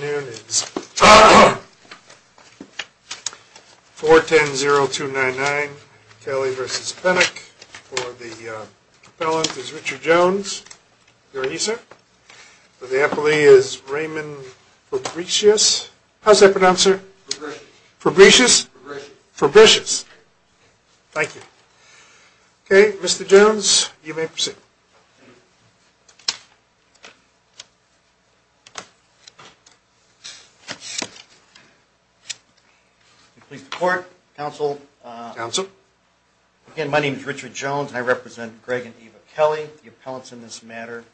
noon is 410-0299 Kelly versus Pennock for the propellant is Richard Jones. Very easy. The employee is Raymond Fabricius. How's that pronounced, sir? Fabricius. Fabricius. Thank you. OK, Mr. Jones, you may proceed. Please report, counsel. Counsel. Again, my name is Richard Jones. I represent Greg and Eva Kelly, the appellants in this matter.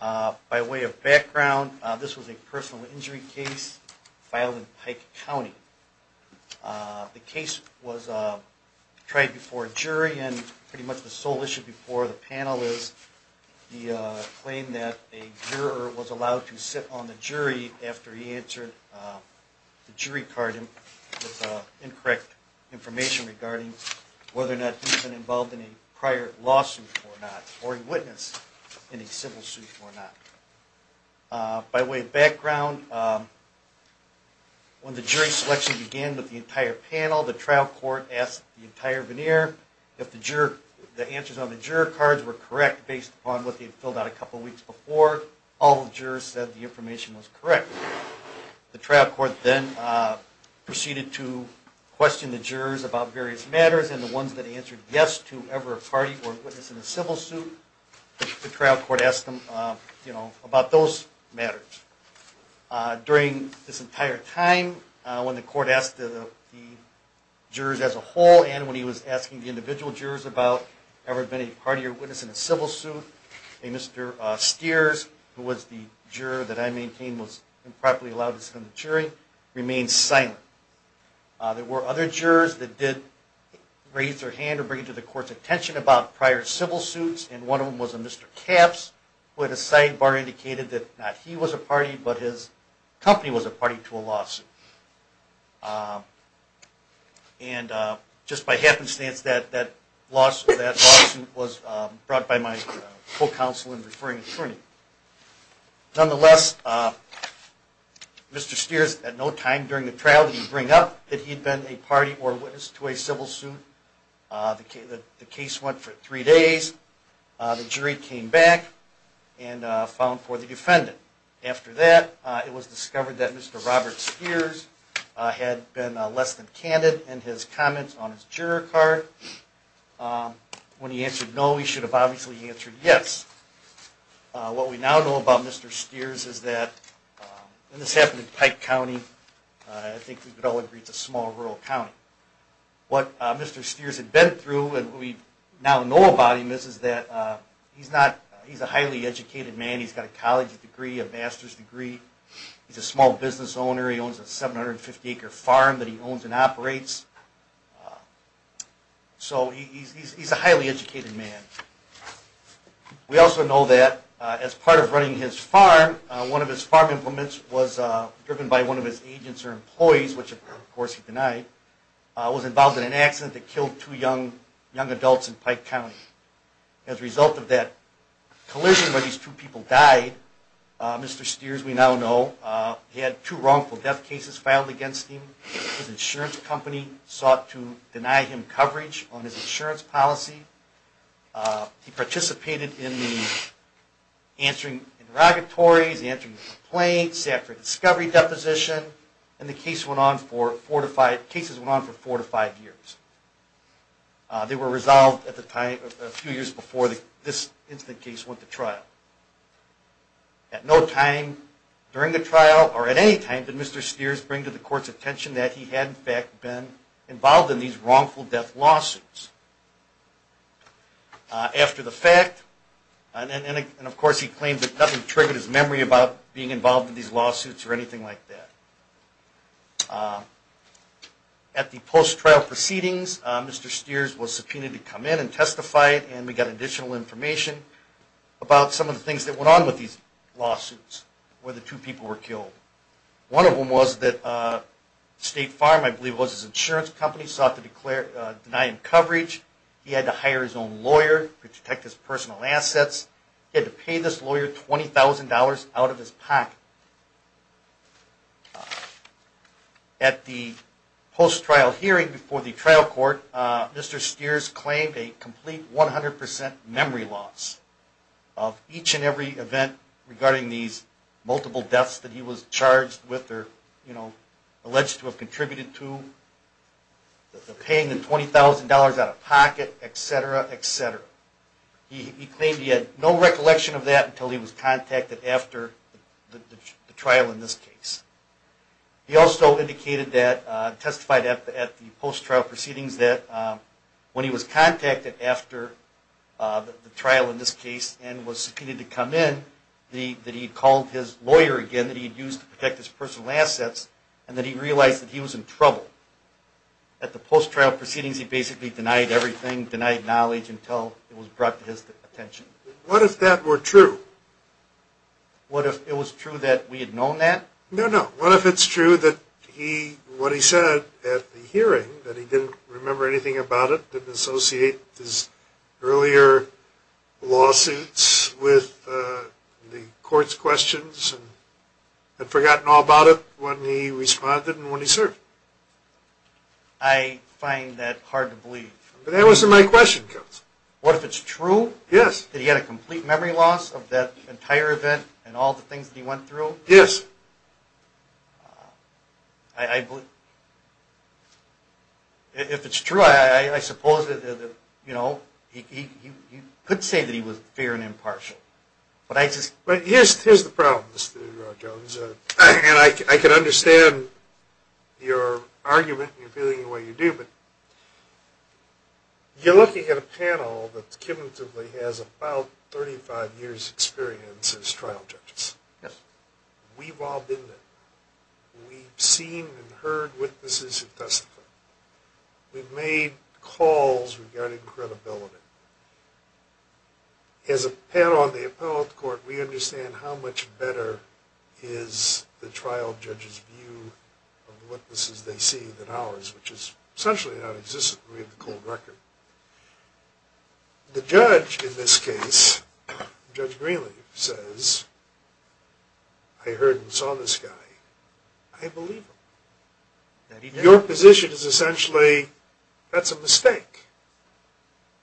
By way of background, this was a personal injury case filed in Pike County. The case was tried before a jury, and pretty much the sole issue before the panel is the claim that a juror was allowed to sit on the jury after he answered the jury card with incorrect information regarding whether or not he's been involved in a prior lawsuit or not, or a witness in a civil suit or not. By way of background, when the jury selection began with the entire panel, the trial court asked the entire veneer if the answers on the juror cards were correct based upon what they had filled out a couple of weeks before. All the jurors said the information was correct. The trial court then proceeded to question the jurors about various matters, and the ones that answered yes to ever a party or witness in a civil suit, the trial court asked them about those matters. During this entire time, when the court asked the jurors as a whole, and when he was asking the individual jurors about ever been a party or witness in a civil suit, a Mr. Steers, who was the juror that I maintained was improperly allowed to sit on the jury, remained silent. There were other jurors that did raise their hand or bring it to the court's attention about prior civil suits, and one of them was a Mr. Capps, who at a sidebar indicated that not he was a party, but his company was a party to a lawsuit. And just by happenstance, that lawsuit was brought by my co-counsel and referring attorney. Nonetheless, Mr. Steers, at no time during the trial did he bring up that he had been a party or witness to a civil suit. The case went for three days, the jury came back and found for the defendant. After that, it was discovered that Mr. Robert Steers had been less than candid in his comments on his juror card. When he answered no, he should have obviously answered yes. What we now know about Mr. Steers is that, and this happened in Pike County, I think we could all agree it's a small rural county. What Mr. Steers had been through and what we now know about him is that he's a highly educated man, he's got a college degree, a master's degree, he's a small business owner, he owns a 750 acre farm that he owns and operates. So he's a highly educated man. We also know that as part of running his farm, one of his farm implements was driven by one of his agents or employees, which of course he denied, was involved in an accident that killed two young adults in Pike County. As a result of that collision where these two people died, Mr. Steers we now know had two wrongful death cases filed against him, his insurance company sought to deny him coverage on his insurance policy, he participated in answering interrogatories, answering complaints, he sat for a discovery deposition, and the cases went on for four to five years. They were resolved a few years before this incident case went to trial. At no time during the trial or at any time did Mr. Steers bring to the court's attention that he had in fact been involved in these wrongful death lawsuits. After the fact, and of course he claimed that nothing triggered his memory about being involved in these lawsuits or anything like that. At the post-trial proceedings, Mr. Steers was subpoenaed to come in and testify and we got additional information about some of the things that went on with these lawsuits where the two people were killed. One of them was that State Farm, I believe it was his insurance company, sought to deny him coverage, he had to hire his own lawyer to protect his personal assets, he had to lawyer $20,000 out of his pocket. At the post-trial hearing before the trial court, Mr. Steers claimed a complete 100% memory loss of each and every event regarding these multiple deaths that he was charged with or alleged to have contributed to, paying the $20,000 out of pocket, etc., etc. He claimed he had no recollection of that until he was contacted after the trial in this case. He also testified at the post-trial proceedings that when he was contacted after the trial in this case and was subpoenaed to come in, that he had called his lawyer again that he had used to protect his personal assets and that he realized that he was in trouble. At the post-trial proceedings, he basically denied everything, denied knowledge until it was brought to his attention. What if that were true? What if it was true that we had known that? No, no. What if it's true that what he said at the hearing, that he didn't remember anything about it, didn't associate his earlier lawsuits with the court's questions and had forgotten all about it when he responded and when he served? I find that hard to believe. But that wasn't my question, Counselor. What if it's true? Yes. That he had a complete memory loss of that entire event and all the things that he went through? Yes. If it's true, I suppose that he could say that he was fair and impartial, but I just Here's the problem, Mr. Jones, and I can understand your argument and your feeling the way you do, but you're looking at a panel that cumulatively has about 35 years' experience as trial judges. Yes. We've all been there. We've seen and heard witnesses who testify. We've made calls regarding credibility. As a panel on the appellate court, we understand how much better is the trial judge's view of the witnesses they see than ours, which is essentially nonexistent. We have the cold record. The judge, in this case, Judge Greenlee, says, I heard and saw this guy. I believe him. Your position is essentially that's a mistake,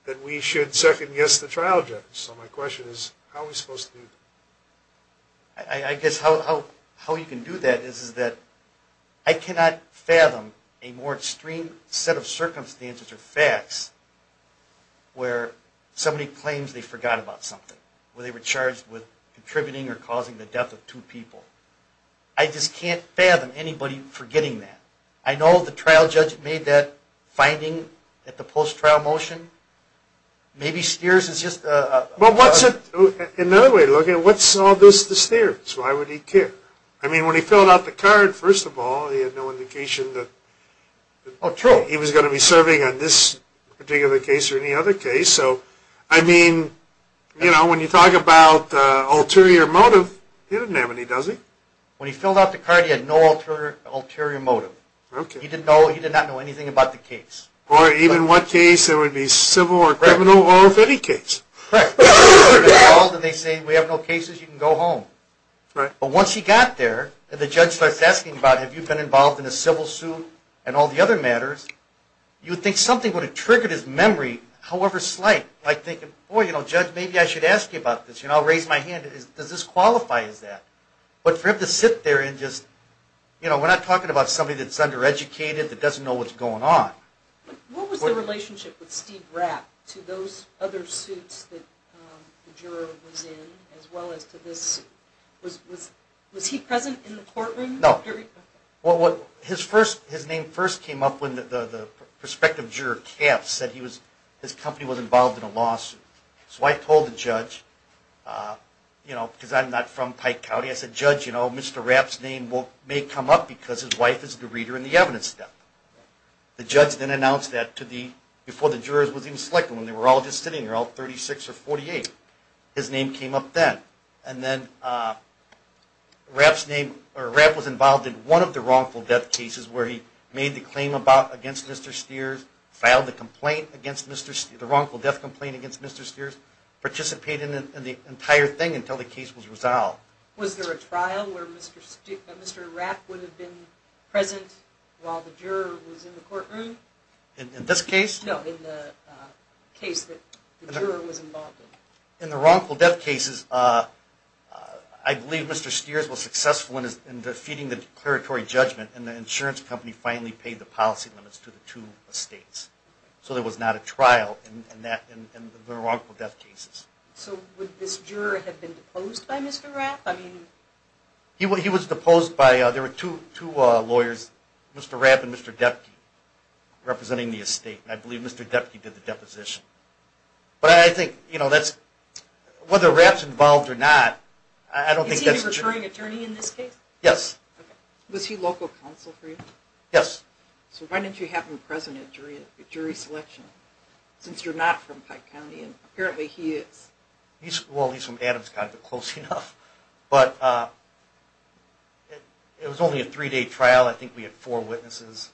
that we should second-guess the trial judge. So my question is, how are we supposed to do that? I guess how you can do that is that I cannot fathom a more extreme set of circumstances or facts where somebody claims they forgot about something, where they were charged with contributing or causing the death of two people. I just can't fathom anybody forgetting that. I know the trial judge made that finding at the post-trial motion. Maybe Steers is just a... Well, what's it... In another way, look, what's all this to Steers? Why would he care? I mean, when he filled out the card, first of all, he had no indication that... Oh, true. ...he was going to be serving on this particular case or any other case. So, I mean, you know, when you talk about ulterior motive, he didn't have any, does he? When he filled out the card, he had no ulterior motive. Okay. He did not know anything about the case. Or even what case. It would be civil or criminal or a petty case. Correct. They say, we have no cases. You can go home. Right. But once he got there and the judge starts asking about, have you been involved in a civil suit and all the other matters, you would think something would have triggered his memory however slight by thinking, well, you know, judge, maybe I should ask you about this. You know, I'll raise my hand. Does this qualify as that? But for him to sit there and just, you know, we're not talking about somebody that's undereducated that doesn't know what's going on. What was the relationship with Steve Rapp to those other suits that the juror was in as well as to this... Was he present in the courtroom? No. Okay. Well, his name first came up when the prospective juror said his company was involved in a lawsuit. So I told the judge, you know, because I'm not from Pike County, I said, judge, you know, Mr. Rapp's name may come up because his wife is the reader in the evidence step. The judge then announced that before the jurors were even selected. They were all just sitting there, all 36 or 48. His name came up then. And then Rapp's name, or Rapp was involved in one of the wrongful death cases where he made the claim against Mr. Steers, filed the complaint against Mr. Steers, the wrongful death complaint against Mr. Steers, participated in the entire thing until the case was resolved. Was there a trial where Mr. Rapp would have been present while the juror was in the courtroom? In this case? No, in the case that the juror was involved in. In the wrongful death cases, I believe Mr. Steers was successful in defeating the declaratory judgment and the insurance company finally paid the policy limits to the two estates. So there was not a trial in the wrongful death cases. So would this juror have been deposed by Mr. Rapp? He was deposed by, there were two lawyers, Mr. Rapp and Mr. Depke, representing the estate. I believe Mr. Depke did the deposition. But I think whether Rapp's involved or not, I don't think that's true. Is he a recurring attorney in this case? Yes. Was he local counsel for you? Yes. So why didn't you have him present at jury selection since you're not from Pike County? And apparently he is. Well, he's from Adams County, but close enough. But it was only a three-day trial. I think we had four witnesses.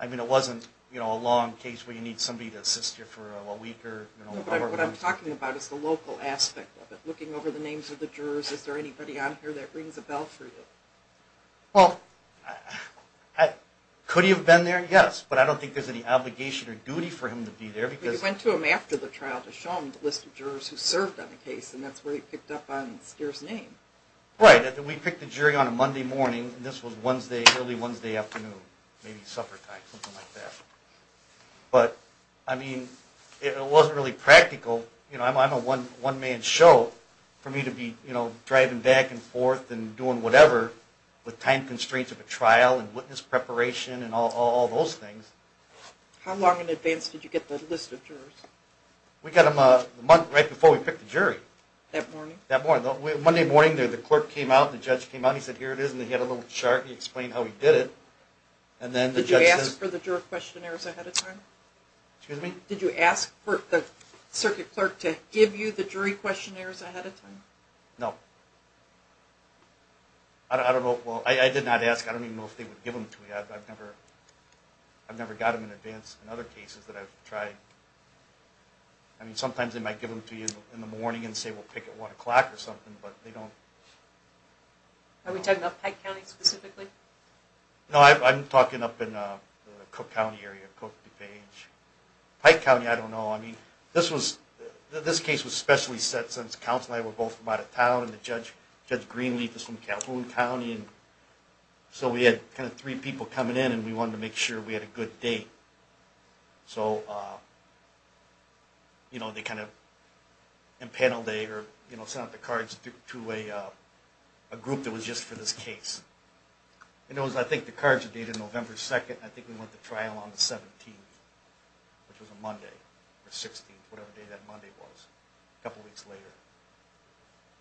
I mean, it wasn't a long case where you need somebody to assist you for a week. What I'm talking about is the local aspect of it, looking over the names of the jurors. Is there anybody on here that rings a bell for you? Well, could he have been there? Yes. But I don't think there's any obligation or duty for him to be there. But you went to him after the trial to show him the list of jurors who served on the case, and that's where he picked up on Steers' name. Right. We picked the jury on a Monday morning, and this was Wednesday, early Wednesday afternoon, maybe supper time, something like that. But, I mean, it wasn't really practical. You know, I'm a one-man show. For me to be driving back and forth and doing whatever with time constraints of a trial and witness preparation and all those things. How long in advance did you get the list of jurors? We got them right before we picked the jury. That morning? That morning. Monday morning, the court came out, the judge came out, he said, here it is, and he had a little chart and he explained how he did it. Did you ask for the juror questionnaires ahead of time? Excuse me? Did you ask for the circuit clerk to give you the jury questionnaires ahead of time? No. I don't know. Well, I did not ask. I don't even know if they would give them to me. I've never got them in advance in other cases that I've tried. I mean, sometimes they might give them to you in the morning and say, we'll pick at 1 o'clock or something, but they don't. Are we talking about Pike County specifically? No, I'm talking up in the Cook County area, Cook, DuPage. Pike County, I don't know. I mean, this case was specially set since the counselor and I were both from out of town and Judge Greenleaf is from Calhoun County. So we had kind of three people coming in and we wanted to make sure we had a good date. So, you know, they kind of impaneled a or sent out the cards to a group that was just for this case. And it was, I think, the cards were dated November 2nd, and I think we went to trial on the 17th, which was a Monday, or 16th, whatever day that Monday was, a couple weeks later.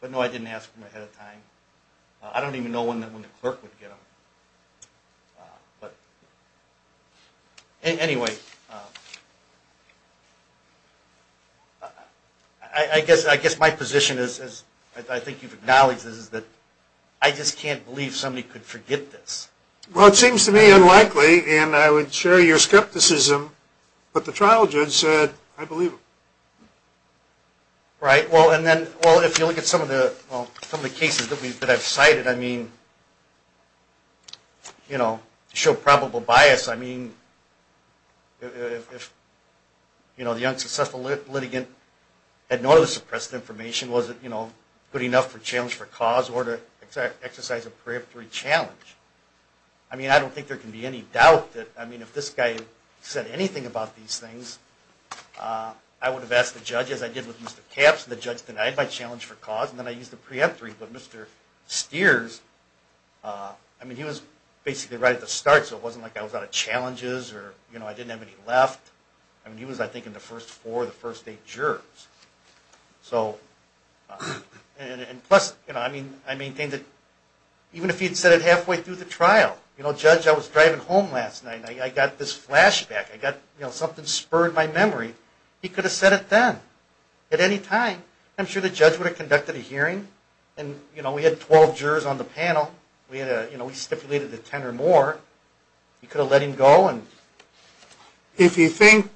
But no, I didn't ask them ahead of time. I don't even know when the clerk would get them. But anyway, I guess my position is, as I think you've acknowledged, is that I just can't believe somebody could forget this. Well, it seems to me unlikely, and I would share your skepticism, but the trial judge said, I believe him. Right, well, and then if you look at some of the cases that I've cited, I mean, you know, to show probable bias, I mean, if, you know, the unsuccessful litigant had no other suppressed information, was it, you know, good enough for challenge for cause or to exercise a preemptory challenge? I mean, I don't think there can be any doubt that, I mean, if this guy said anything about these things, I would have asked the judge, as I did with Mr. Capps, and the judge denied my challenge for cause, and then I used the preemptory. But Mr. Steers, I mean, he was basically right at the start, so it wasn't like I was out of challenges or, you know, I didn't have any left. I mean, he was, I think, in the first four or the first eight jurors. So, and plus, you know, I mean, I maintain that even if he had said it halfway through the trial, you know, judge, I was driving home last night, and I got this flashback. I got, you know, something spurred my memory. He could have said it then at any time. I'm sure the judge would have conducted a hearing, and, you know, we had 12 jurors on the panel. We had a, you know, we stipulated that 10 or more. He could have let him go. If you think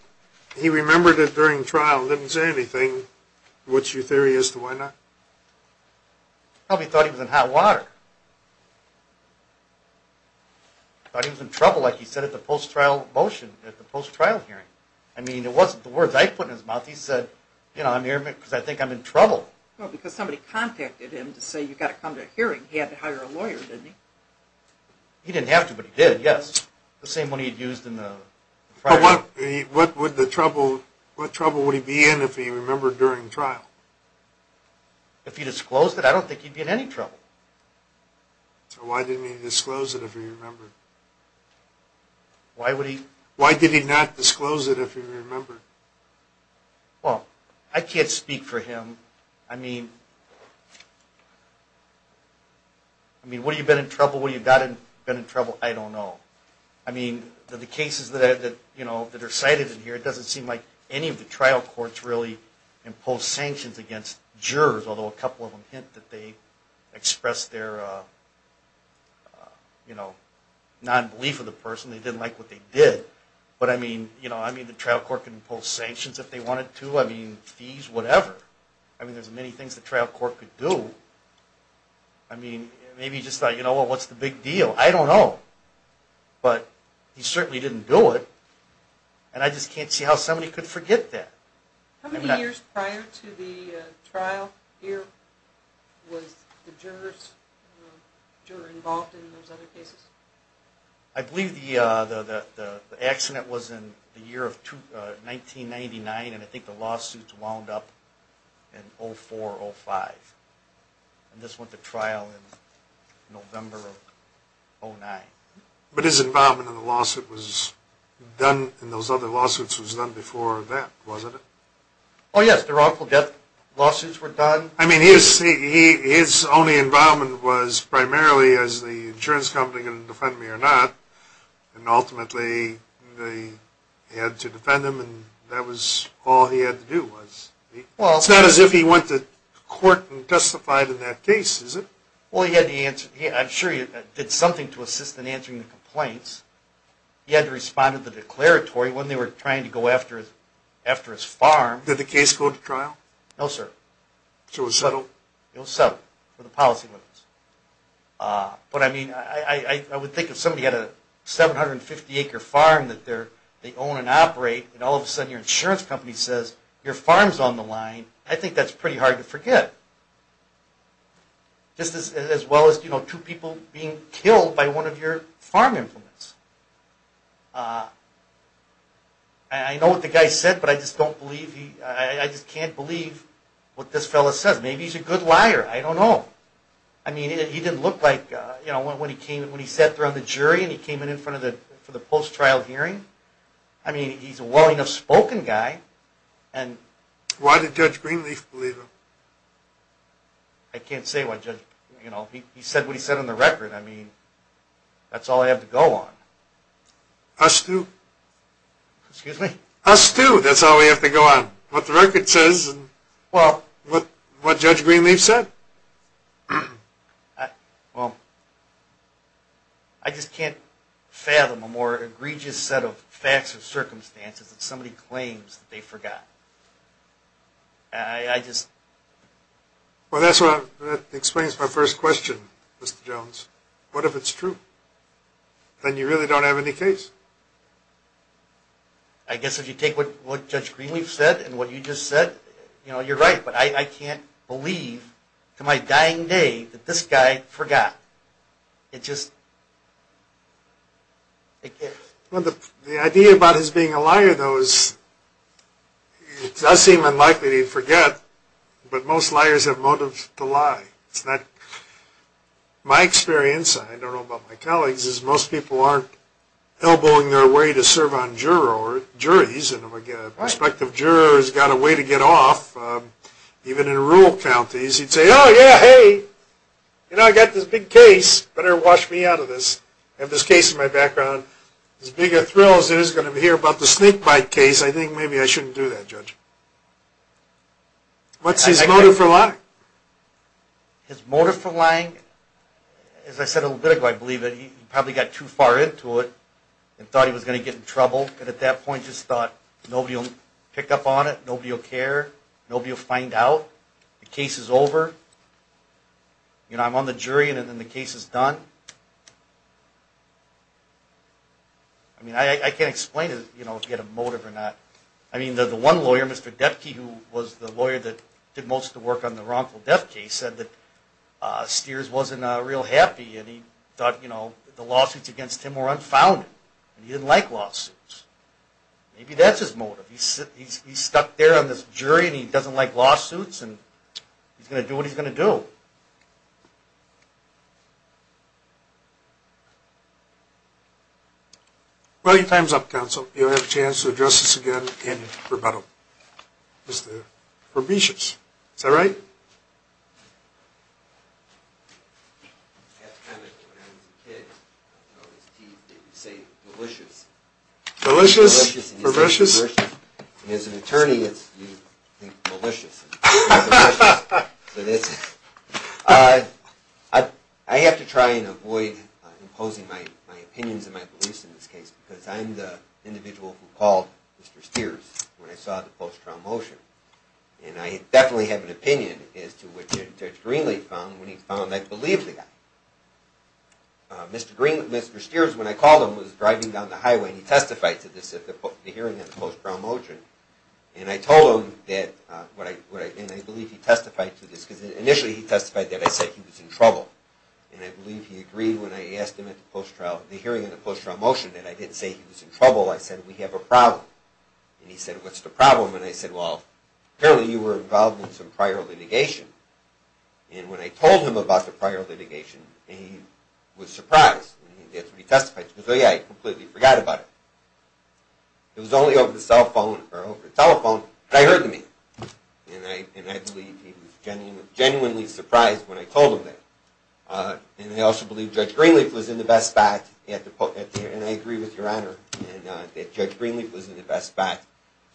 he remembered it during trial, didn't say anything, what's your theory as to why not? Probably thought he was in hot water. Thought he was in trouble, like he said, at the post-trial motion, at the post-trial hearing. Thought he said, you know, I'm here because I think I'm in trouble. Well, because somebody contacted him to say you've got to come to a hearing. He had to hire a lawyer, didn't he? He didn't have to, but he did, yes. The same one he had used in the prior one. What would the trouble, what trouble would he be in if he remembered during trial? If he disclosed it, I don't think he'd be in any trouble. So why didn't he disclose it if he remembered? Why would he? Why did he not disclose it if he remembered? Well, I can't speak for him. I mean, what have you been in trouble, what have you not been in trouble, I don't know. I mean, the cases that are cited in here, it doesn't seem like any of the trial courts really imposed sanctions against jurors, although a couple of them hint that they expressed their, you know, non-belief of the person. They didn't like what they did. But I mean, you know, I mean, the trial court can impose sanctions if they wanted to. I mean, fees, whatever. I mean, there's many things the trial court could do. I mean, maybe he just thought, you know, well, what's the big deal? I don't know. But he certainly didn't do it, and I just can't see how somebody could forget that. How many years prior to the trial here was the jurors involved in those other cases? I believe the accident was in the year of 1999, and I think the lawsuits wound up in 04, 05. And this went to trial in November of 09. But his involvement in the lawsuit was done in those other lawsuits was done before that, wasn't it? Oh, yes. The wrongful death lawsuits were done. I mean, his only involvement was primarily as the insurance company going to defend me or not, and ultimately they had to defend him, and that was all he had to do was. It's not as if he went to court and testified in that case, is it? Well, he had to answer. I'm sure he did something to assist in answering the complaints. He had to respond to the declaratory when they were trying to go after his farm. Did the case go to trial? No, sir. So it was settled? It was settled for the policy limits. But, I mean, I would think if somebody had a 750-acre farm that they own and operate, and all of a sudden your insurance company says your farm's on the line, I think that's pretty hard to forget. Just as well as two people being killed by one of your farm implements. I know what the guy said, but I just can't believe what this fellow says. Maybe he's a good liar. I don't know. I mean, he didn't look like, you know, when he sat there on the jury and he came in in front of the post-trial hearing. I mean, he's a well-enough spoken guy. Why did Judge Greenleaf believe him? I can't say why Judge, you know, he said what he said on the record. I mean, that's all I have to go on. Us too. Excuse me? Us too. That's all we have to go on. What the record says and, well, what Judge Greenleaf said. Well, I just can't fathom a more egregious set of facts or circumstances that somebody claims that they forgot. I just... Well, that explains my first question, Mr. Jones. What if it's true? Then you really don't have any case. I guess if you take what Judge Greenleaf said and what you just said, you know, you're right. But I can't believe to my dying day that this guy forgot. It just... Well, the idea about his being a liar, though, is... It does seem unlikely that he'd forget, but most liars have motive to lie. It's not... My experience, I don't know about my colleagues, is most people aren't elbowing their way to serve on jurors, juries, and if a prospective juror has got a way to get off, even in rural counties, he'd say, Oh, yeah, hey, you know, I got this big case. Better wash me out of this. I have this case in my background. As big a thrill as it is to hear about the snake bite case, I think maybe I shouldn't do that, Judge. What's his motive for lying? His motive for lying... As I said a little bit ago, I believe that he probably got too far into it and thought he was going to get in trouble, and at that point just thought nobody will pick up on it, nobody will care, nobody will find out. The case is over. You know, I'm on the jury, and then the case is done. I mean, I can't explain if he had a motive or not. I mean, the one lawyer, Mr. Depke, who was the lawyer that did most of the work on the wrongful death case, said that Steers wasn't real happy, and he thought the lawsuits against him were unfounded, and he didn't like lawsuits. Maybe that's his motive. He's stuck there on this jury, and he doesn't like lawsuits, and he's going to do what he's going to do. Thank you. Well, your time's up, counsel. You'll have a chance to address this again in rebuttal. Mr. Fabricius, is that right? I have to tell you, when I was a kid, I was always teased that you'd say, malicious. Malicious? Fabricius? And as an attorney, you'd think malicious. I have to try and avoid imposing my opinions and my beliefs in this case, because I'm the individual who called Mr. Steers when I saw the post-trial motion, and I definitely have an opinion as to what Judge Greenlee found when he found I believed the guy. Mr. Steers, when I called him, was driving down the highway, and he testified to the hearing on the post-trial motion, and I told him that, and I believe he testified to this, because initially he testified that I said he was in trouble, and I believe he agreed when I asked him at the hearing on the post-trial motion that I didn't say he was in trouble, I said, we have a problem. And he said, what's the problem? And I said, well, apparently you were involved in some prior litigation. And when I told him about the prior litigation, he was surprised, and that's what he testified to. He goes, oh yeah, I completely forgot about it. It was only over the telephone that I heard the meter. And I believe he was genuinely surprised when I told him that. And I also believe Judge Greenlee was in the best spot, and I agree with Your Honor, that Judge Greenlee was in the best spot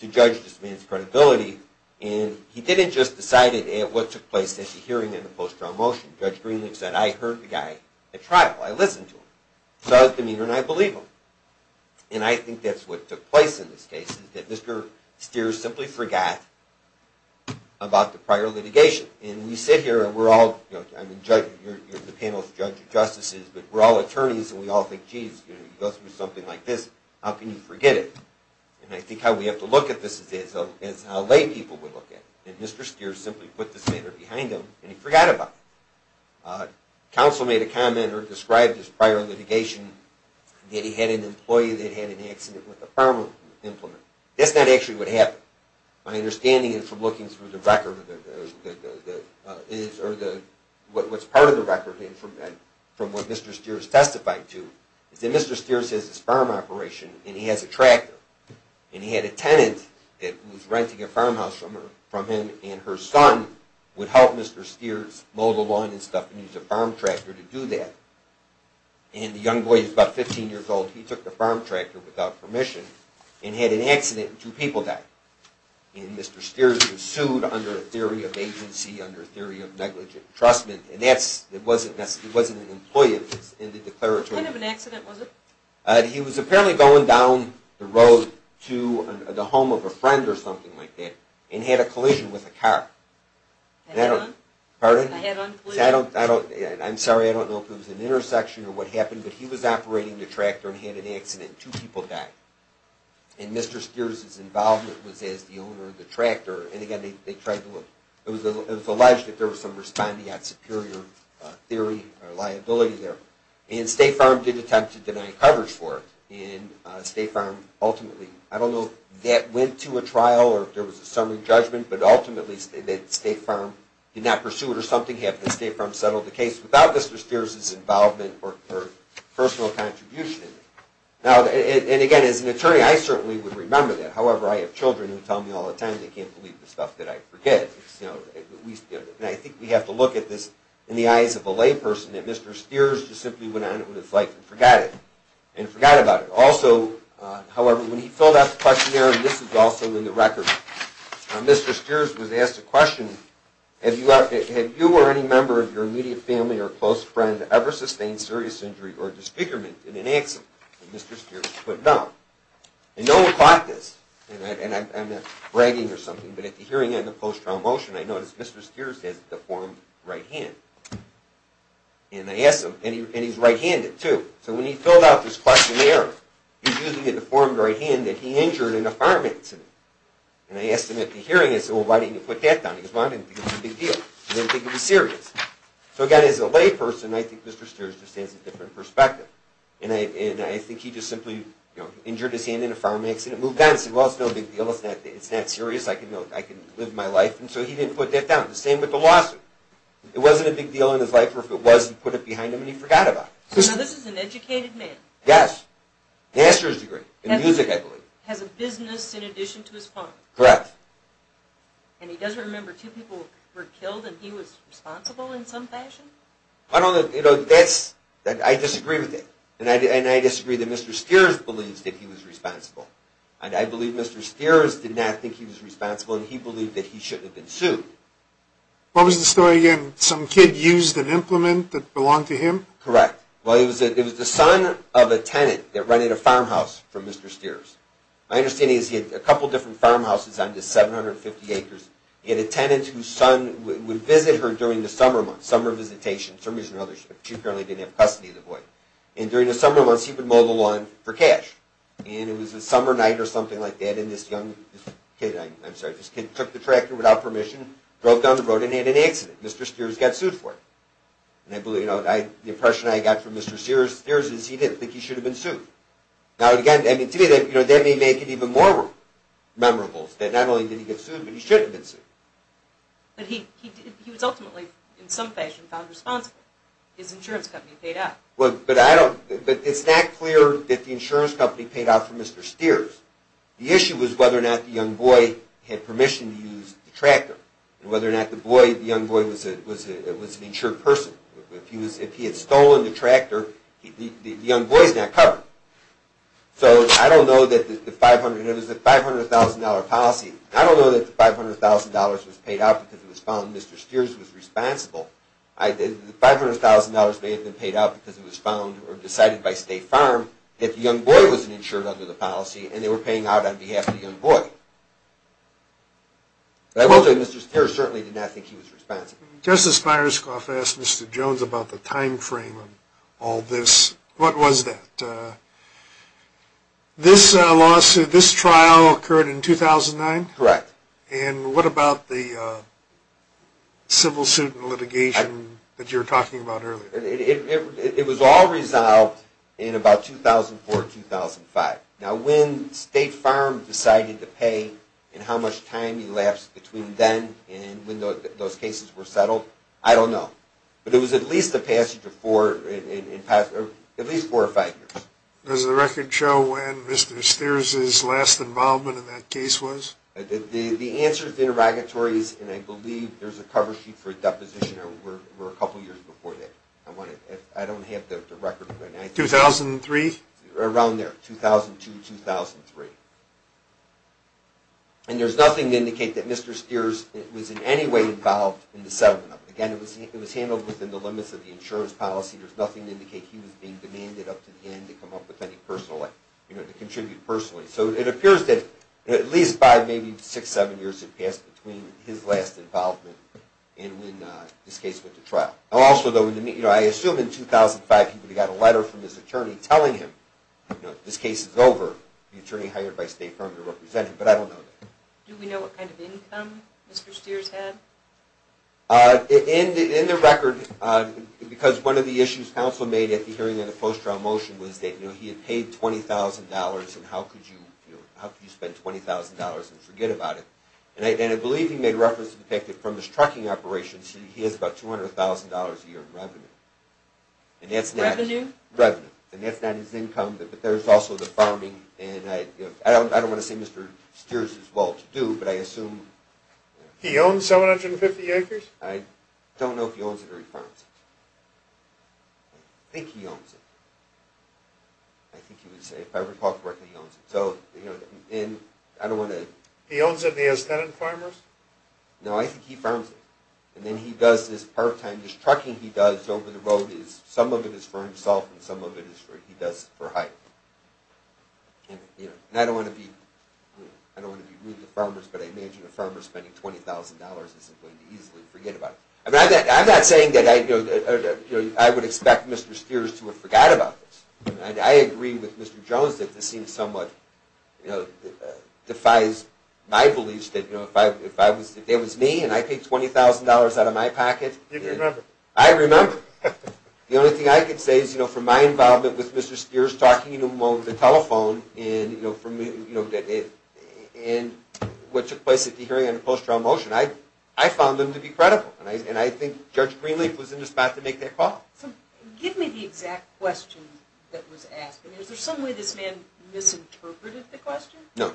to judge this man's credibility, and he didn't just decide what took place at the hearing on the post-trial motion. Judge Greenlee said, I heard the guy at trial, I listened to him. He saw the meter, and I believe him. And I think that's what took place in this case, is that Mr. Steers simply forgot about the prior litigation. And we sit here, and we're all, you're the panel of judges and justices, but we're all attorneys, and we all think, geez, you go through something like this, how can you forget it? And I think how we have to look at this is how lay people would look at it. And Mr. Steers simply put this matter behind him, and he forgot about it. Counsel made a comment, or described his prior litigation, that he had an employee that had an accident with a farm implement. That's not actually what happened. My understanding is, from looking through the record, or what's part of the record from what Mr. Steers testified to, is that Mr. Steers has this farm operation, and he has a tractor. And he had a tenant that was renting a farmhouse from him, and her son would help Mr. Steers mow the lawn and stuff, and use a farm tractor to do that. And the young boy was about 15 years old, he took the farm tractor without permission, and had an accident, and two people died. And Mr. Steers was sued under a theory of agency, under a theory of negligent entrustment, and that's, it wasn't an employee of his in the declaratory. What kind of an accident was it? He was apparently going down the road to the home of a friend or something like that, and had a collision with a car. Pardon? I'm sorry, I don't know if it was an intersection or what happened, but he was operating the tractor and had an accident, two people died. And Mr. Steers' involvement was as the owner of the tractor, and again, they tried to look, it was alleged that there was some responding on superior theory or liability there. And State Farm did attempt to deny coverage for it, and State Farm ultimately, I don't know if that went to a trial, or if there was a summary judgment, but ultimately State Farm did not pursue it or something, and State Farm settled the case without Mr. Steers' involvement or personal contribution. And again, as an attorney, I certainly would remember that. However, I have children who tell me all the time they can't believe the stuff that I forget. And I think we have to look at this in the eyes of a layperson, that Mr. Steers just simply went on with his life and forgot it, and forgot about it. Also, however, when he filled out the questionnaire, and this is also in the record, Mr. Steers was asked a question, have you or any member of your immediate family or close friend ever sustained serious injury or disfigurement in an accident? And Mr. Steers put no. And no one caught this, and I'm not bragging or something, but at the hearing end of the post-trial motion, I noticed Mr. Steers has a deformed right hand. And I asked him, and he's right-handed too. So when he filled out this questionnaire, he's using a deformed right hand that he injured in a fireman accident. And I asked him at the hearing, I said, well, why didn't you put that down? He goes, well, I didn't think it was a big deal. I didn't think it was serious. So again, as a layperson, I think Mr. Steers just has a different perspective. And I think he just simply injured his hand in a fireman accident, moved on, said, well, it's no big deal. It's not serious. I can live my life. And so he didn't put that down. The same with the lawsuit. It wasn't a big deal in his life, or if it was, he put it behind him and he forgot about it. So this is an educated man. Yes. Master's degree in music, I believe. Has a business in addition to his farm. Correct. And he doesn't remember two people were killed, and he was responsible in some fashion? I don't know. I disagree with that. And I disagree that Mr. Steers believes that he was responsible. And I believe Mr. Steers did not think he was responsible, and he believed that he shouldn't have been sued. What was the story again? Some kid used an implement that belonged to him? Correct. Well, it was the son of a tenant that rented a farmhouse from Mr. Steers. My understanding is he had a couple different farmhouses on this 750 acres. He had a tenant whose son would visit her during the summer months, summer visitation. For some reason or another, she apparently didn't have custody of the boy. And during the summer months, he would mow the lawn for cash. And it was a summer night or something like that, and this young kid, I'm sorry, this kid took the tractor without permission, drove down the road, and had an accident. Mr. Steers got sued for it. And I believe, you know, the impression I got from Mr. Steers is he didn't think he should have been sued. Now, again, to me, that may make it even more memorable, that not only did he get sued, but he should have been sued. But he was ultimately, in some fashion, found responsible. His insurance company paid up. But it's not clear that the insurance company paid out for Mr. Steers. The issue was whether or not the young boy had permission to use the tractor, and whether or not the young boy was an insured person. If he had stolen the tractor, the young boy is not covered. So I don't know that the $500,000 policy, I don't know that the $500,000 was paid out because it was found Mr. Steers was responsible. The $500,000 may have been paid out because it was found or decided by State Farm that the young boy was an insured under the policy, and they were paying out on behalf of the young boy. But I will say Mr. Steers certainly did not think he was responsible. Justice Myerscough asked Mr. Jones about the time frame of all this. What was that? This lawsuit, this trial occurred in 2009? Correct. And what about the civil suit and litigation that you were talking about earlier? It was all resolved in about 2004, 2005. Now when State Farm decided to pay, and how much time elapsed between then and when those cases were settled, I don't know. But it was at least a passage of four or five years. Does the record show when Mr. Steers' last involvement in that case was? The answer to the interrogatory is, and I believe there's a cover sheet for a deposition, it was a couple of years before that. I don't have the record. 2003? Around there, 2002, 2003. And there's nothing to indicate that Mr. Steers was in any way involved in the settlement. Again, it was handled within the limits of the insurance policy. There's nothing to indicate he was being demanded up to the end to come up with any personal, you know, to contribute personally. So it appears that at least five, maybe six, seven years had passed between his last involvement and when this case went to trial. Also, though, I assume in 2005 he got a letter from his attorney telling him, you know, this case is over, the attorney hired by State Farm to represent him. But I don't know that. Do we know what kind of income Mr. Steers had? In the record, because one of the issues counsel made at the hearing in the post-trial motion was that, you know, he had paid $20,000 and how could you spend $20,000 and forget about it? And I believe he made reference to the fact that from his trucking operations, he has about $200,000 a year in revenue. Revenue? Revenue. And that's not his income, but there's also the farming, and I don't want to say Mr. Steers is well-to-do, but I assume... He owns 750 acres? I don't know if he owns it or he farms it. I think he owns it. I think he would say, if I recall correctly, he owns it. So, you know, and I don't want to... He owns it and he has that in farmers? No, I think he farms it. And then he does this part-time, this trucking he does over the road, some of it is for himself and some of it he does for hire. And, you know, I don't want to be rude to farmers, but I imagine a farmer spending $20,000 isn't going to easily forget about it. I'm not saying that I would expect Mr. Steers to forget about this. I agree with Mr. Jones that this seems somewhat... defies my beliefs that if it was me and I paid $20,000 out of my pocket... You'd remember. I'd remember. The only thing I can say is, you know, from my involvement with Mr. Steers, talking to him over the telephone, and what took place at the hearing on the post-trial motion, I found them to be credible, and I think Judge Greenleaf was in the spot to make that call. Give me the exact question that was asked. I mean, is there some way this man misinterpreted the question? No.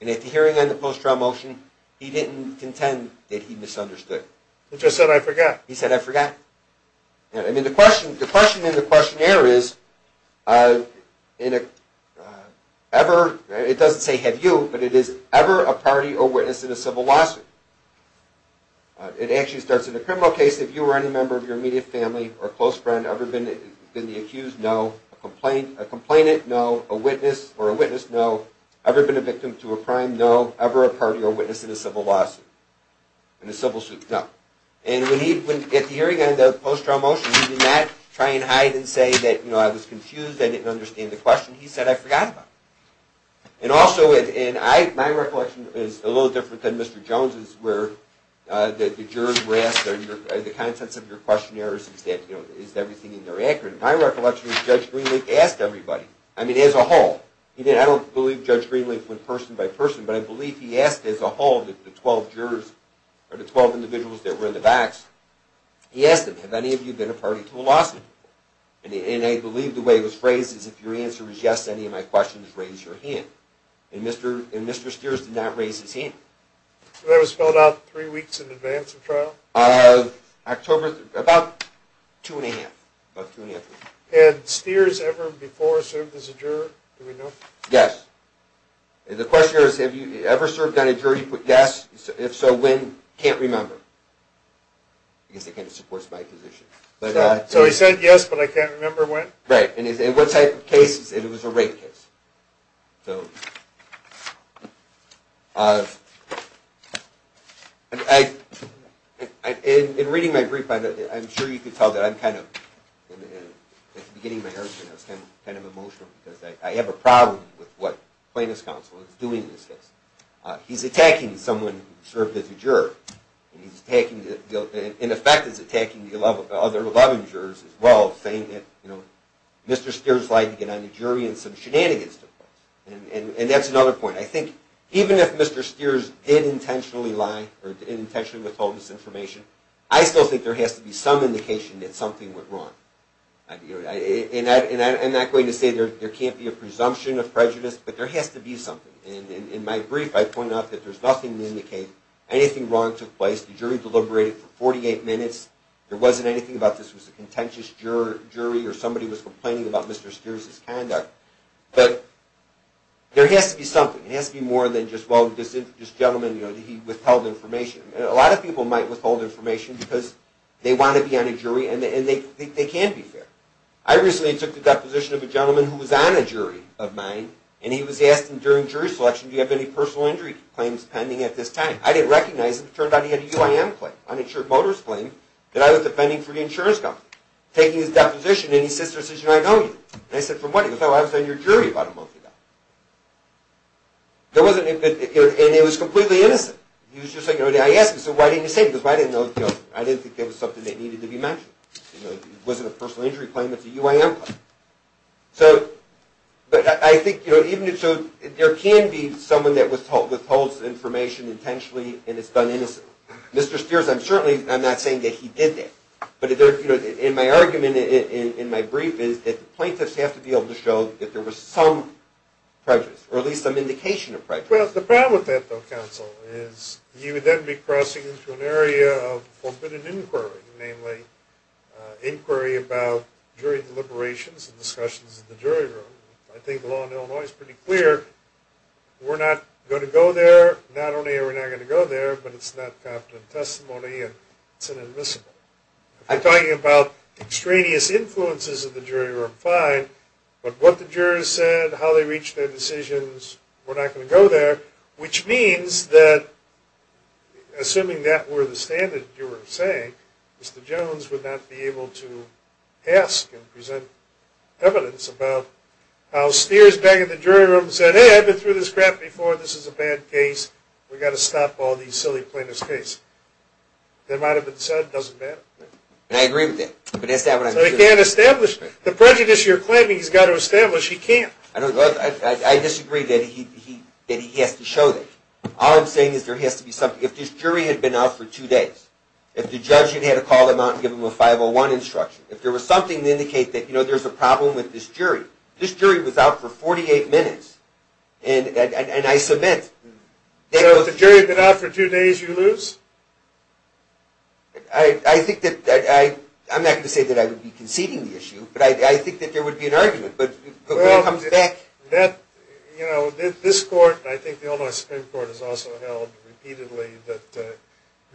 And at the hearing on the post-trial motion, he didn't contend that he misunderstood. He just said, I forgot. He said, I forgot. I mean, the question in the questionnaire is, ever, it doesn't say have you, but it is ever a party or witness in a civil lawsuit. It actually starts, In a criminal case, if you or any member of your immediate family or close friend ever been the accused, no. A complainant, no. A witness or a witness, no. Ever been a victim to a crime, no. Ever a party or witness in a civil lawsuit, no. And at the hearing on the post-trial motion, he did not try and hide and say that I was confused, I didn't understand the question. He said, I forgot about it. And also, my recollection is a little different than Mr. Jones's, where the jurors were asked, are the contents of your questionnaire, is everything in there accurate? My recollection is Judge Greenleaf asked everybody. I mean, as a whole. I don't believe Judge Greenleaf went person by person, but I believe he asked as a whole the 12 jurors, or the 12 individuals that were in the box. He asked them, have any of you been a party to a lawsuit? And I believe the way it was phrased is, if your answer is yes to any of my questions, raise your hand. And Mr. Steers did not raise his hand. Was that spelled out three weeks in advance of trial? October, about two and a half, about two and a half weeks. Had Steers ever before served as a juror? Do we know? Yes. And the question is, have you ever served on a jury? Yes. If so, when? Can't remember. Because it kind of supports my position. So he said yes, but I can't remember when? Right. And what type of case is it? It was a rape case. In reading my brief, I'm sure you can tell that I'm kind of, at the beginning of my argument, I was kind of emotional because I have a problem with what Plaintiff's Counsel is doing in this case. He's attacking someone who served as a juror. In effect, he's attacking the other 11 jurors as well, saying that Mr. Steers lied to get on the jury, and some shenanigans took place. And that's another point. I think even if Mr. Steers did intentionally lie or intentionally withhold this information, I still think there has to be some indication that something went wrong. And I'm not going to say there can't be a presumption of prejudice, but there has to be something. In my brief, I point out that there's nothing to indicate anything wrong took place. The jury deliberated for 48 minutes. There wasn't anything about this was a contentious jury or somebody was complaining about Mr. Steers' conduct. But there has to be something. It has to be more than just, well, this gentleman, you know, he withheld information. A lot of people might withhold information because they want to be on a jury and they think they can't be fair. I recently took the deposition of a gentleman who was on a jury of mine, and he was asking during jury selection, do you have any personal injury claims pending at this time? I didn't recognize him. It turned out he had a UIM claim, uninsured motorist claim, that I was defending for the insurance company. Taking his deposition, and he sits there and says, you know, I know you. And I said, from when? He goes, oh, I was on your jury about a month ago. And it was completely innocent. He was just like, I asked him, so why didn't you say it? He goes, well, I didn't think that was something that needed to be mentioned. It wasn't a personal injury claim. It's a UIM claim. So, but I think, you know, even if so, there can be someone that withholds information intentionally and it's done innocently. Mr. Spears, I'm certainly not saying that he did that. But, you know, in my argument, in my brief, is that the plaintiffs have to be able to show that there was some prejudice or at least some indication of prejudice. Well, the problem with that, though, counsel, is you would then be crossing into an area of forbidden inquiry, namely inquiry about jury deliberations and discussions in the jury room. I think the law in Illinois is pretty clear. We're not going to go there. Not only are we not going to go there, but it's not confident testimony and it's inadmissible. If you're talking about extraneous influences of the jury room, fine. But what the jurors said, how they reached their decisions, we're not going to go there. Which means that, assuming that were the standard you were saying, Mr. Jones would not be able to ask and present evidence about how Spears, back in the jury room, said, hey, I've been through this crap before, this is a bad case, we've got to stop all these silly plaintiffs' case. That might have been said. It doesn't matter. And I agree with that. But that's not what I'm saying. So he can't establish it. The prejudice you're claiming he's got to establish, he can't. I disagree that he has to show that. All I'm saying is there has to be something. If this jury had been out for two days, if the judge had had to call them out and give them a 501 instruction, if there was something to indicate that, you know, there's a problem with this jury. This jury was out for 48 minutes. And I submit. So if the jury had been out for two days, you lose? I think that I'm not going to say that I would be conceding the issue, but I think that there would be an argument. But when it comes back. You know, this court, and I think the Illinois Supreme Court has also held repeatedly, that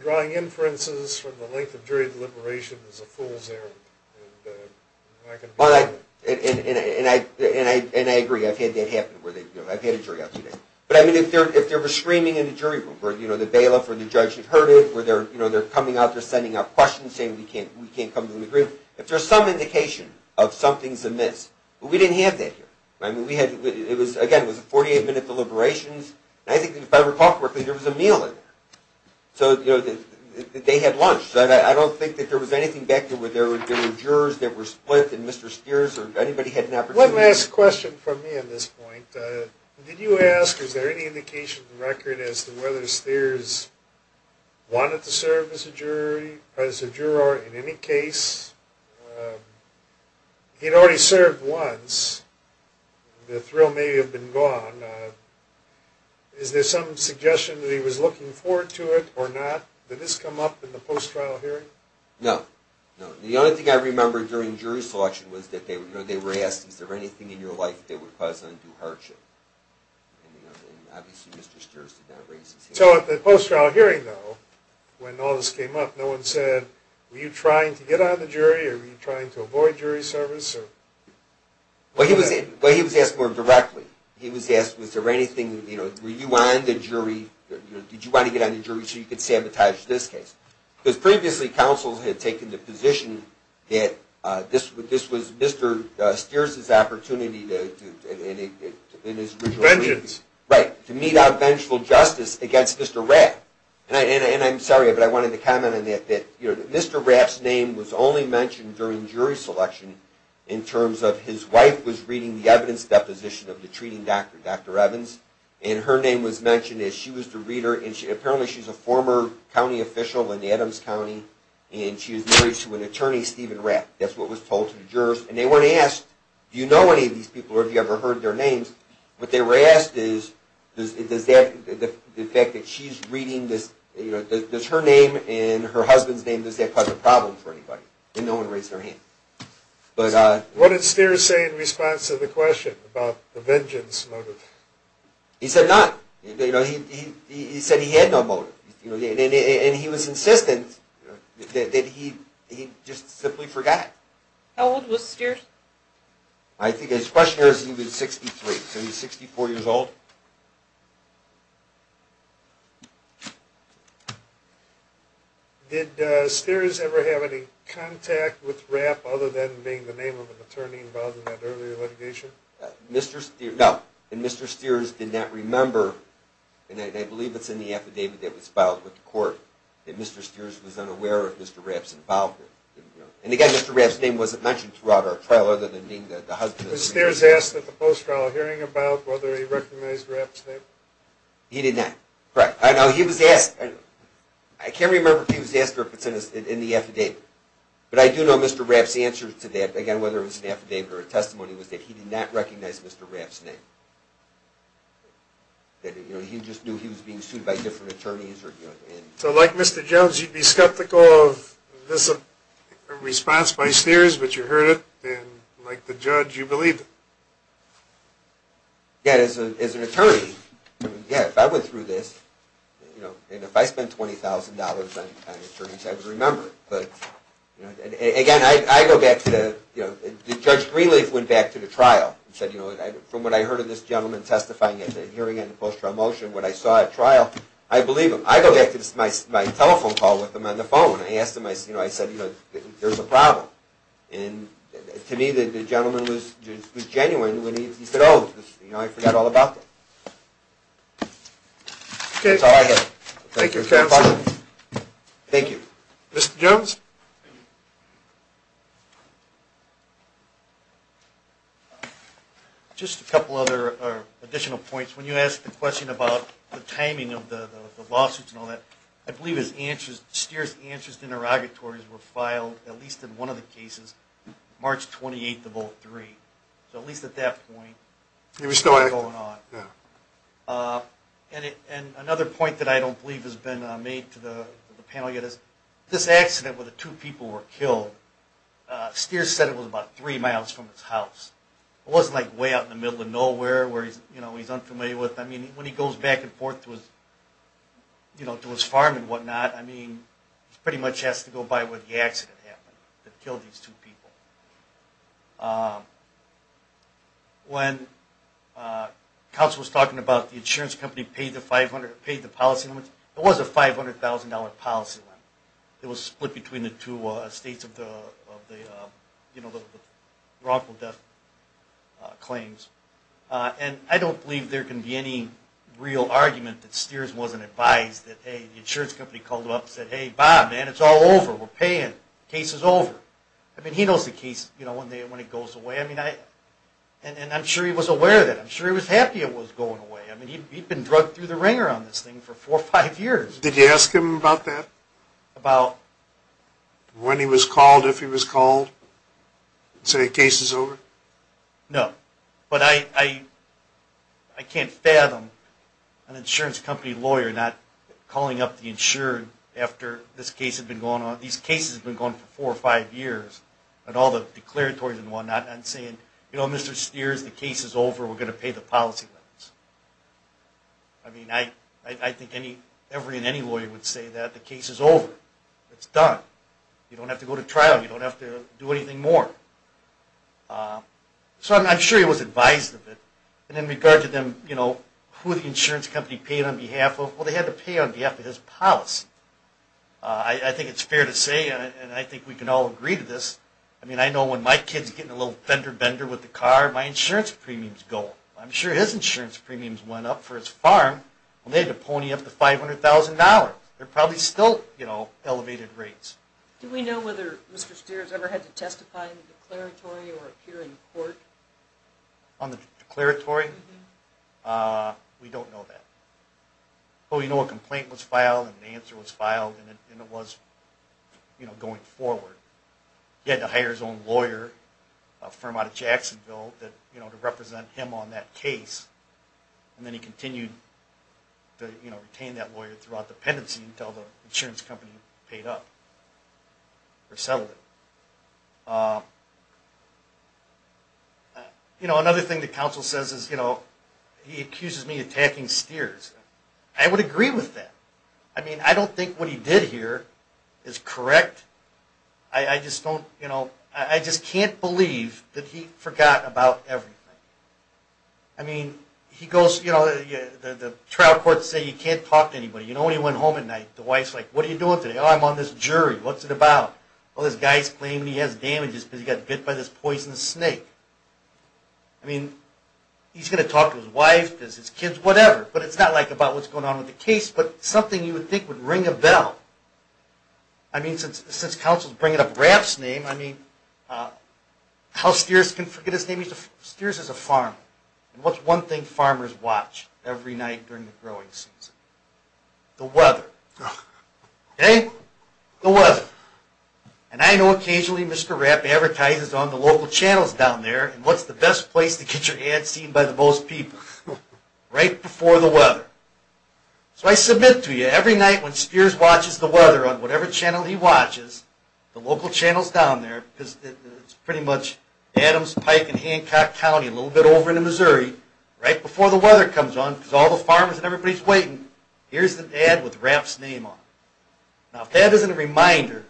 drawing inferences from the length of jury deliberations is a fool's errand. And I can agree with that. And I agree. I've had that happen. I've had a jury out two days. But, I mean, if there was screaming in the jury room, or, you know, the bailiff or the judge had heard it, or they're coming out, they're sending out questions, saying we can't come to an agreement. If there's some indication of something's amiss, well, we didn't have that here. I mean, we had, again, it was a 48-minute deliberations. And I think, if I recall correctly, there was a meal in there. So, you know, they had lunch. I don't think that there was anything back there where there were jurors that were split, and Mr. Steers or anybody had an opportunity. One last question from me on this point. Did you ask, is there any indication of the record as to whether Steers wanted to serve as a jury, as a juror in any case? He'd already served once. The thrill may have been gone. Is there some suggestion that he was looking forward to it or not? Did this come up in the post-trial hearing? No, no. The only thing I remember during jury selection was that they were asked, is there anything in your life that would cause them to do hardship? And, you know, obviously Mr. Steers did not raise his hand. So, at the post-trial hearing, though, when all this came up, no one said, were you trying to get on the jury or were you trying to avoid jury service? Well, he was asked more directly. He was asked, was there anything, you know, were you on the jury? Did you want to get on the jury so you could sabotage this case? Because previously counsels had taken the position that this was Mr. Steers' opportunity in his original. Vengeance. Right, to mete out vengeful justice against Mr. Rapp. And I'm sorry, but I wanted to comment on that, that Mr. Rapp's name was only mentioned during jury selection in terms of his wife was reading the evidence deposition of the treating doctor, Dr. Evans, and her name was mentioned as she was the reader. And apparently she's a former county official in Adams County, and she is married to an attorney, Stephen Rapp. That's what was told to the jurors. And they weren't asked, do you know any of these people or have you ever heard their names? What they were asked is does that, the fact that she's reading this, you know, does her name and her husband's name, does that cause a problem for anybody? And no one raised their hand. What did Steers say in response to the question about the vengeance motive? He said not. You know, he said he had no motive. And he was insistent that he just simply forgot. How old was Steers? I think his question is he was 63, so he's 64 years old. Did Steers ever have any contact with Rapp other than being the name of an attorney involved in that earlier litigation? Mr. Steers, no. And Mr. Steers did not remember, and I believe it's in the affidavit that was filed with the court, that Mr. Steers was unaware of Mr. Rapp's involvement. And, again, Mr. Rapp's name wasn't mentioned throughout our trial other than being the husband. Was Steers asked at the post-trial hearing about whether he recognized Rapp's name? He did not. Correct. I know he was asked. I can't remember if he was asked or if it's in the affidavit. But I do know Mr. Rapp's answer to that, again, whether it was an affidavit or a testimony, was that he did not recognize Mr. Rapp's name, that, you know, he just knew he was being sued by different attorneys. So, like Mr. Jones, you'd be skeptical of this response by Steers, but you heard it, and, like the judge, you believed it. Yeah, as an attorney, yeah, if I went through this, you know, and if I spent $20,000 on attorneys, I would remember it. But, you know, again, I go back to the, you know, Judge Greenleaf went back to the trial and said, you know, from what I heard of this gentleman testifying at the hearing in the post-trial motion when I saw at trial, I believe him. I go back to my telephone call with him on the phone. I asked him, you know, I said, you know, there's a problem. And to me, the gentleman was genuine when he said, oh, you know, I forgot all about that. Okay. Thank you, counsel. Thank you. Mr. Jones? Just a couple other additional points. When you asked the question about the timing of the lawsuits and all that, I believe Steers' answers to interrogatories were filed, at least in one of the cases, March 28th of 03. So, at least at that point, it was still going on. Yeah. And another point that I don't believe has been made to the panel yet is this accident where the two people were killed. Steers said it was about three miles from his house. It wasn't, like, way out in the middle of nowhere where he's, you know, he's unfamiliar with. I mean, when he goes back and forth to his, you know, to his farm and whatnot, I mean, he pretty much has to go by where the accident happened that killed these two people. When counsel was talking about the insurance company paid the policy limits, it was a $500,000 policy limit. It was split between the two states of the, you know, the wrongful death claims. And I don't believe there can be any real argument that Steers wasn't advised that, hey, the insurance company called him up and said, hey, Bob, man, it's all over. We're paying. The case is over. I mean, he knows the case, you know, when it goes away. I mean, and I'm sure he was aware of that. I'm sure he was happy it was going away. I mean, he'd been drug through the ringer on this thing for four or five years. Did you ask him about that? About? When he was called, if he was called, and say the case is over? No. But I can't fathom an insurance company lawyer not calling up the insurer after this case had been going on. These cases had been going on for four or five years, and all the declaratories and whatnot, and saying, you know, Mr. Steers, the case is over. We're going to pay the policy limits. I mean, I think every and any lawyer would say that. The case is over. It's done. You don't have to go to trial. You don't have to do anything more. So I'm sure he was advised of it. And in regard to them, you know, who the insurance company paid on behalf of, well, they had to pay on behalf of his policy. I think it's fair to say, and I think we can all agree to this, I mean, I know when my kid's getting a little fender bender with the car, my insurance premiums go. I'm sure his insurance premiums went up for his farm. Well, they had to pony up the $500,000. They're probably still, you know, elevated rates. Do we know whether Mr. Steers ever had to testify in the declaratory or appear in court? On the declaratory? We don't know that. But we know a complaint was filed and an answer was filed, and it was, you know, going forward. And then he continued to, you know, retain that lawyer throughout the pendency until the insurance company paid up or settled it. You know, another thing the counsel says is, you know, he accuses me of attacking Steers. I would agree with that. I mean, I don't think what he did here is correct. I just don't, you know, I just can't believe that he forgot about everything. I mean, he goes, you know, the trial courts say you can't talk to anybody. You know, when he went home at night, the wife's like, what are you doing today? Oh, I'm on this jury. What's it about? Oh, this guy's claiming he has damages because he got bit by this poisonous snake. I mean, he's going to talk to his wife, his kids, whatever. But it's not like about what's going on with the case, but something you would think would ring a bell. I mean, since counsel's bringing up Rapp's name, I mean, how Steers can forget his name? Steers is a farmer. And what's one thing farmers watch every night during the growing season? The weather. Okay? The weather. And I know occasionally Mr. Rapp advertises on the local channels down there, and what's the best place to get your ad seen by the most people? Right before the weather. So I submit to you, every night when Steers watches the weather on whatever channel he watches, the local channels down there, because it's pretty much Adams, Pike, and Hancock County, a little bit over into Missouri, right before the weather comes on, because all the farmers and everybody's waiting, here's an ad with Rapp's name on it. Now, if that isn't a reminder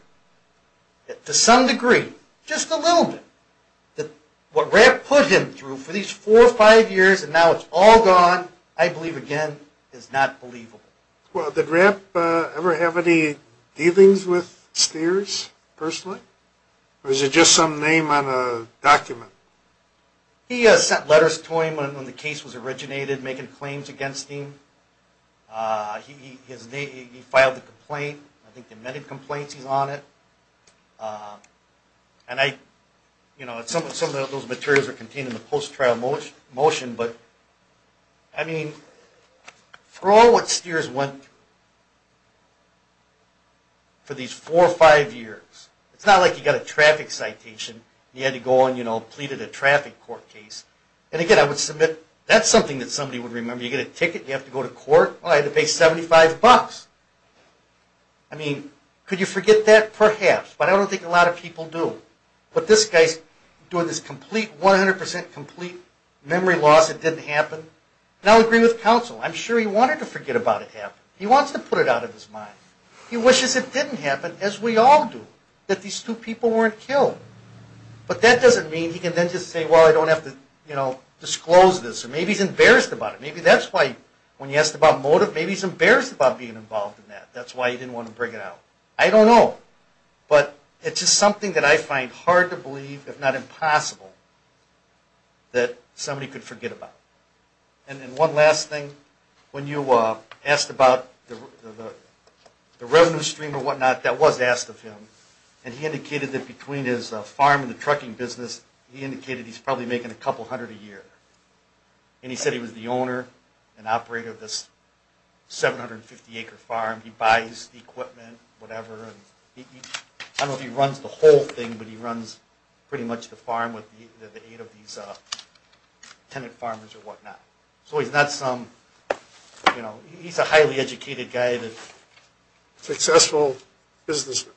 that to some degree, just a little bit, that what Rapp put him through for these four or five years, and now it's all gone, I believe, again, is not believable. Well, did Rapp ever have any dealings with Steers personally? Or is it just some name on a document? He sent letters to him when the case was originated, making claims against him. He filed a complaint. I think in many complaints he's on it. And some of those materials are contained in the post-trial motion, but for all what Steers went through for these four or five years, it's not like he got a traffic citation, and he had to go on and plead at a traffic court case. And again, I would submit, that's something that somebody would remember. You get a ticket and you have to go to court? I had to pay 75 bucks. I mean, could you forget that? Perhaps. But I don't think a lot of people do. But this guy's doing this 100% complete memory loss. It didn't happen. And I'll agree with counsel. I'm sure he wanted to forget about it happening. He wants to put it out of his mind. He wishes it didn't happen, as we all do, that these two people weren't killed. But that doesn't mean he can then just say, well, I don't have to disclose this. Or maybe he's embarrassed about it. Maybe that's why when he asked about motive, maybe he's embarrassed about being involved in that. That's why he didn't want to bring it out. I don't know. But it's just something that I find hard to believe, if not impossible, that somebody could forget about. And then one last thing. When you asked about the revenue stream or whatnot, that was asked of him, and he indicated that between his farm and the trucking business, he indicated he's probably making a couple hundred a year. And he said he was the owner and operator of this 750-acre farm. He buys the equipment, whatever. I don't know if he runs the whole thing, but he runs pretty much the farm with the aid of these tenant farmers or whatnot. So he's a highly educated guy. Successful businessman.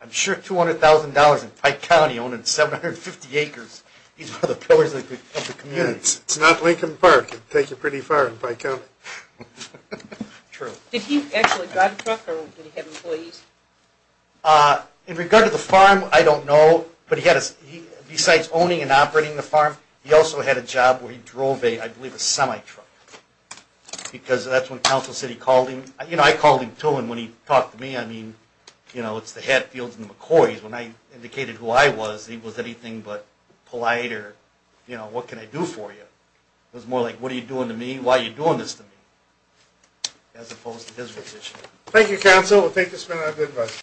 I'm sure $200,000 in Pike County, owning 750 acres, these are the pillars of the community. It's not Lincoln Park. It would take you pretty far in Pike County. True. Did he actually drive a truck or did he have employees? In regard to the farm, I don't know. But besides owning and operating the farm, he also had a job where he drove, I believe, a semi-truck. Because that's when Council City called him. You know, I called him, too, and when he talked to me, I mean, you know, it's the Hatfields and the McCoys. When I indicated who I was, he was anything but polite or, you know, what can I do for you? It was more like, what are you doing to me? Why are you doing this to me? As opposed to his position. Thank you, Counsel. I think this has been a good one.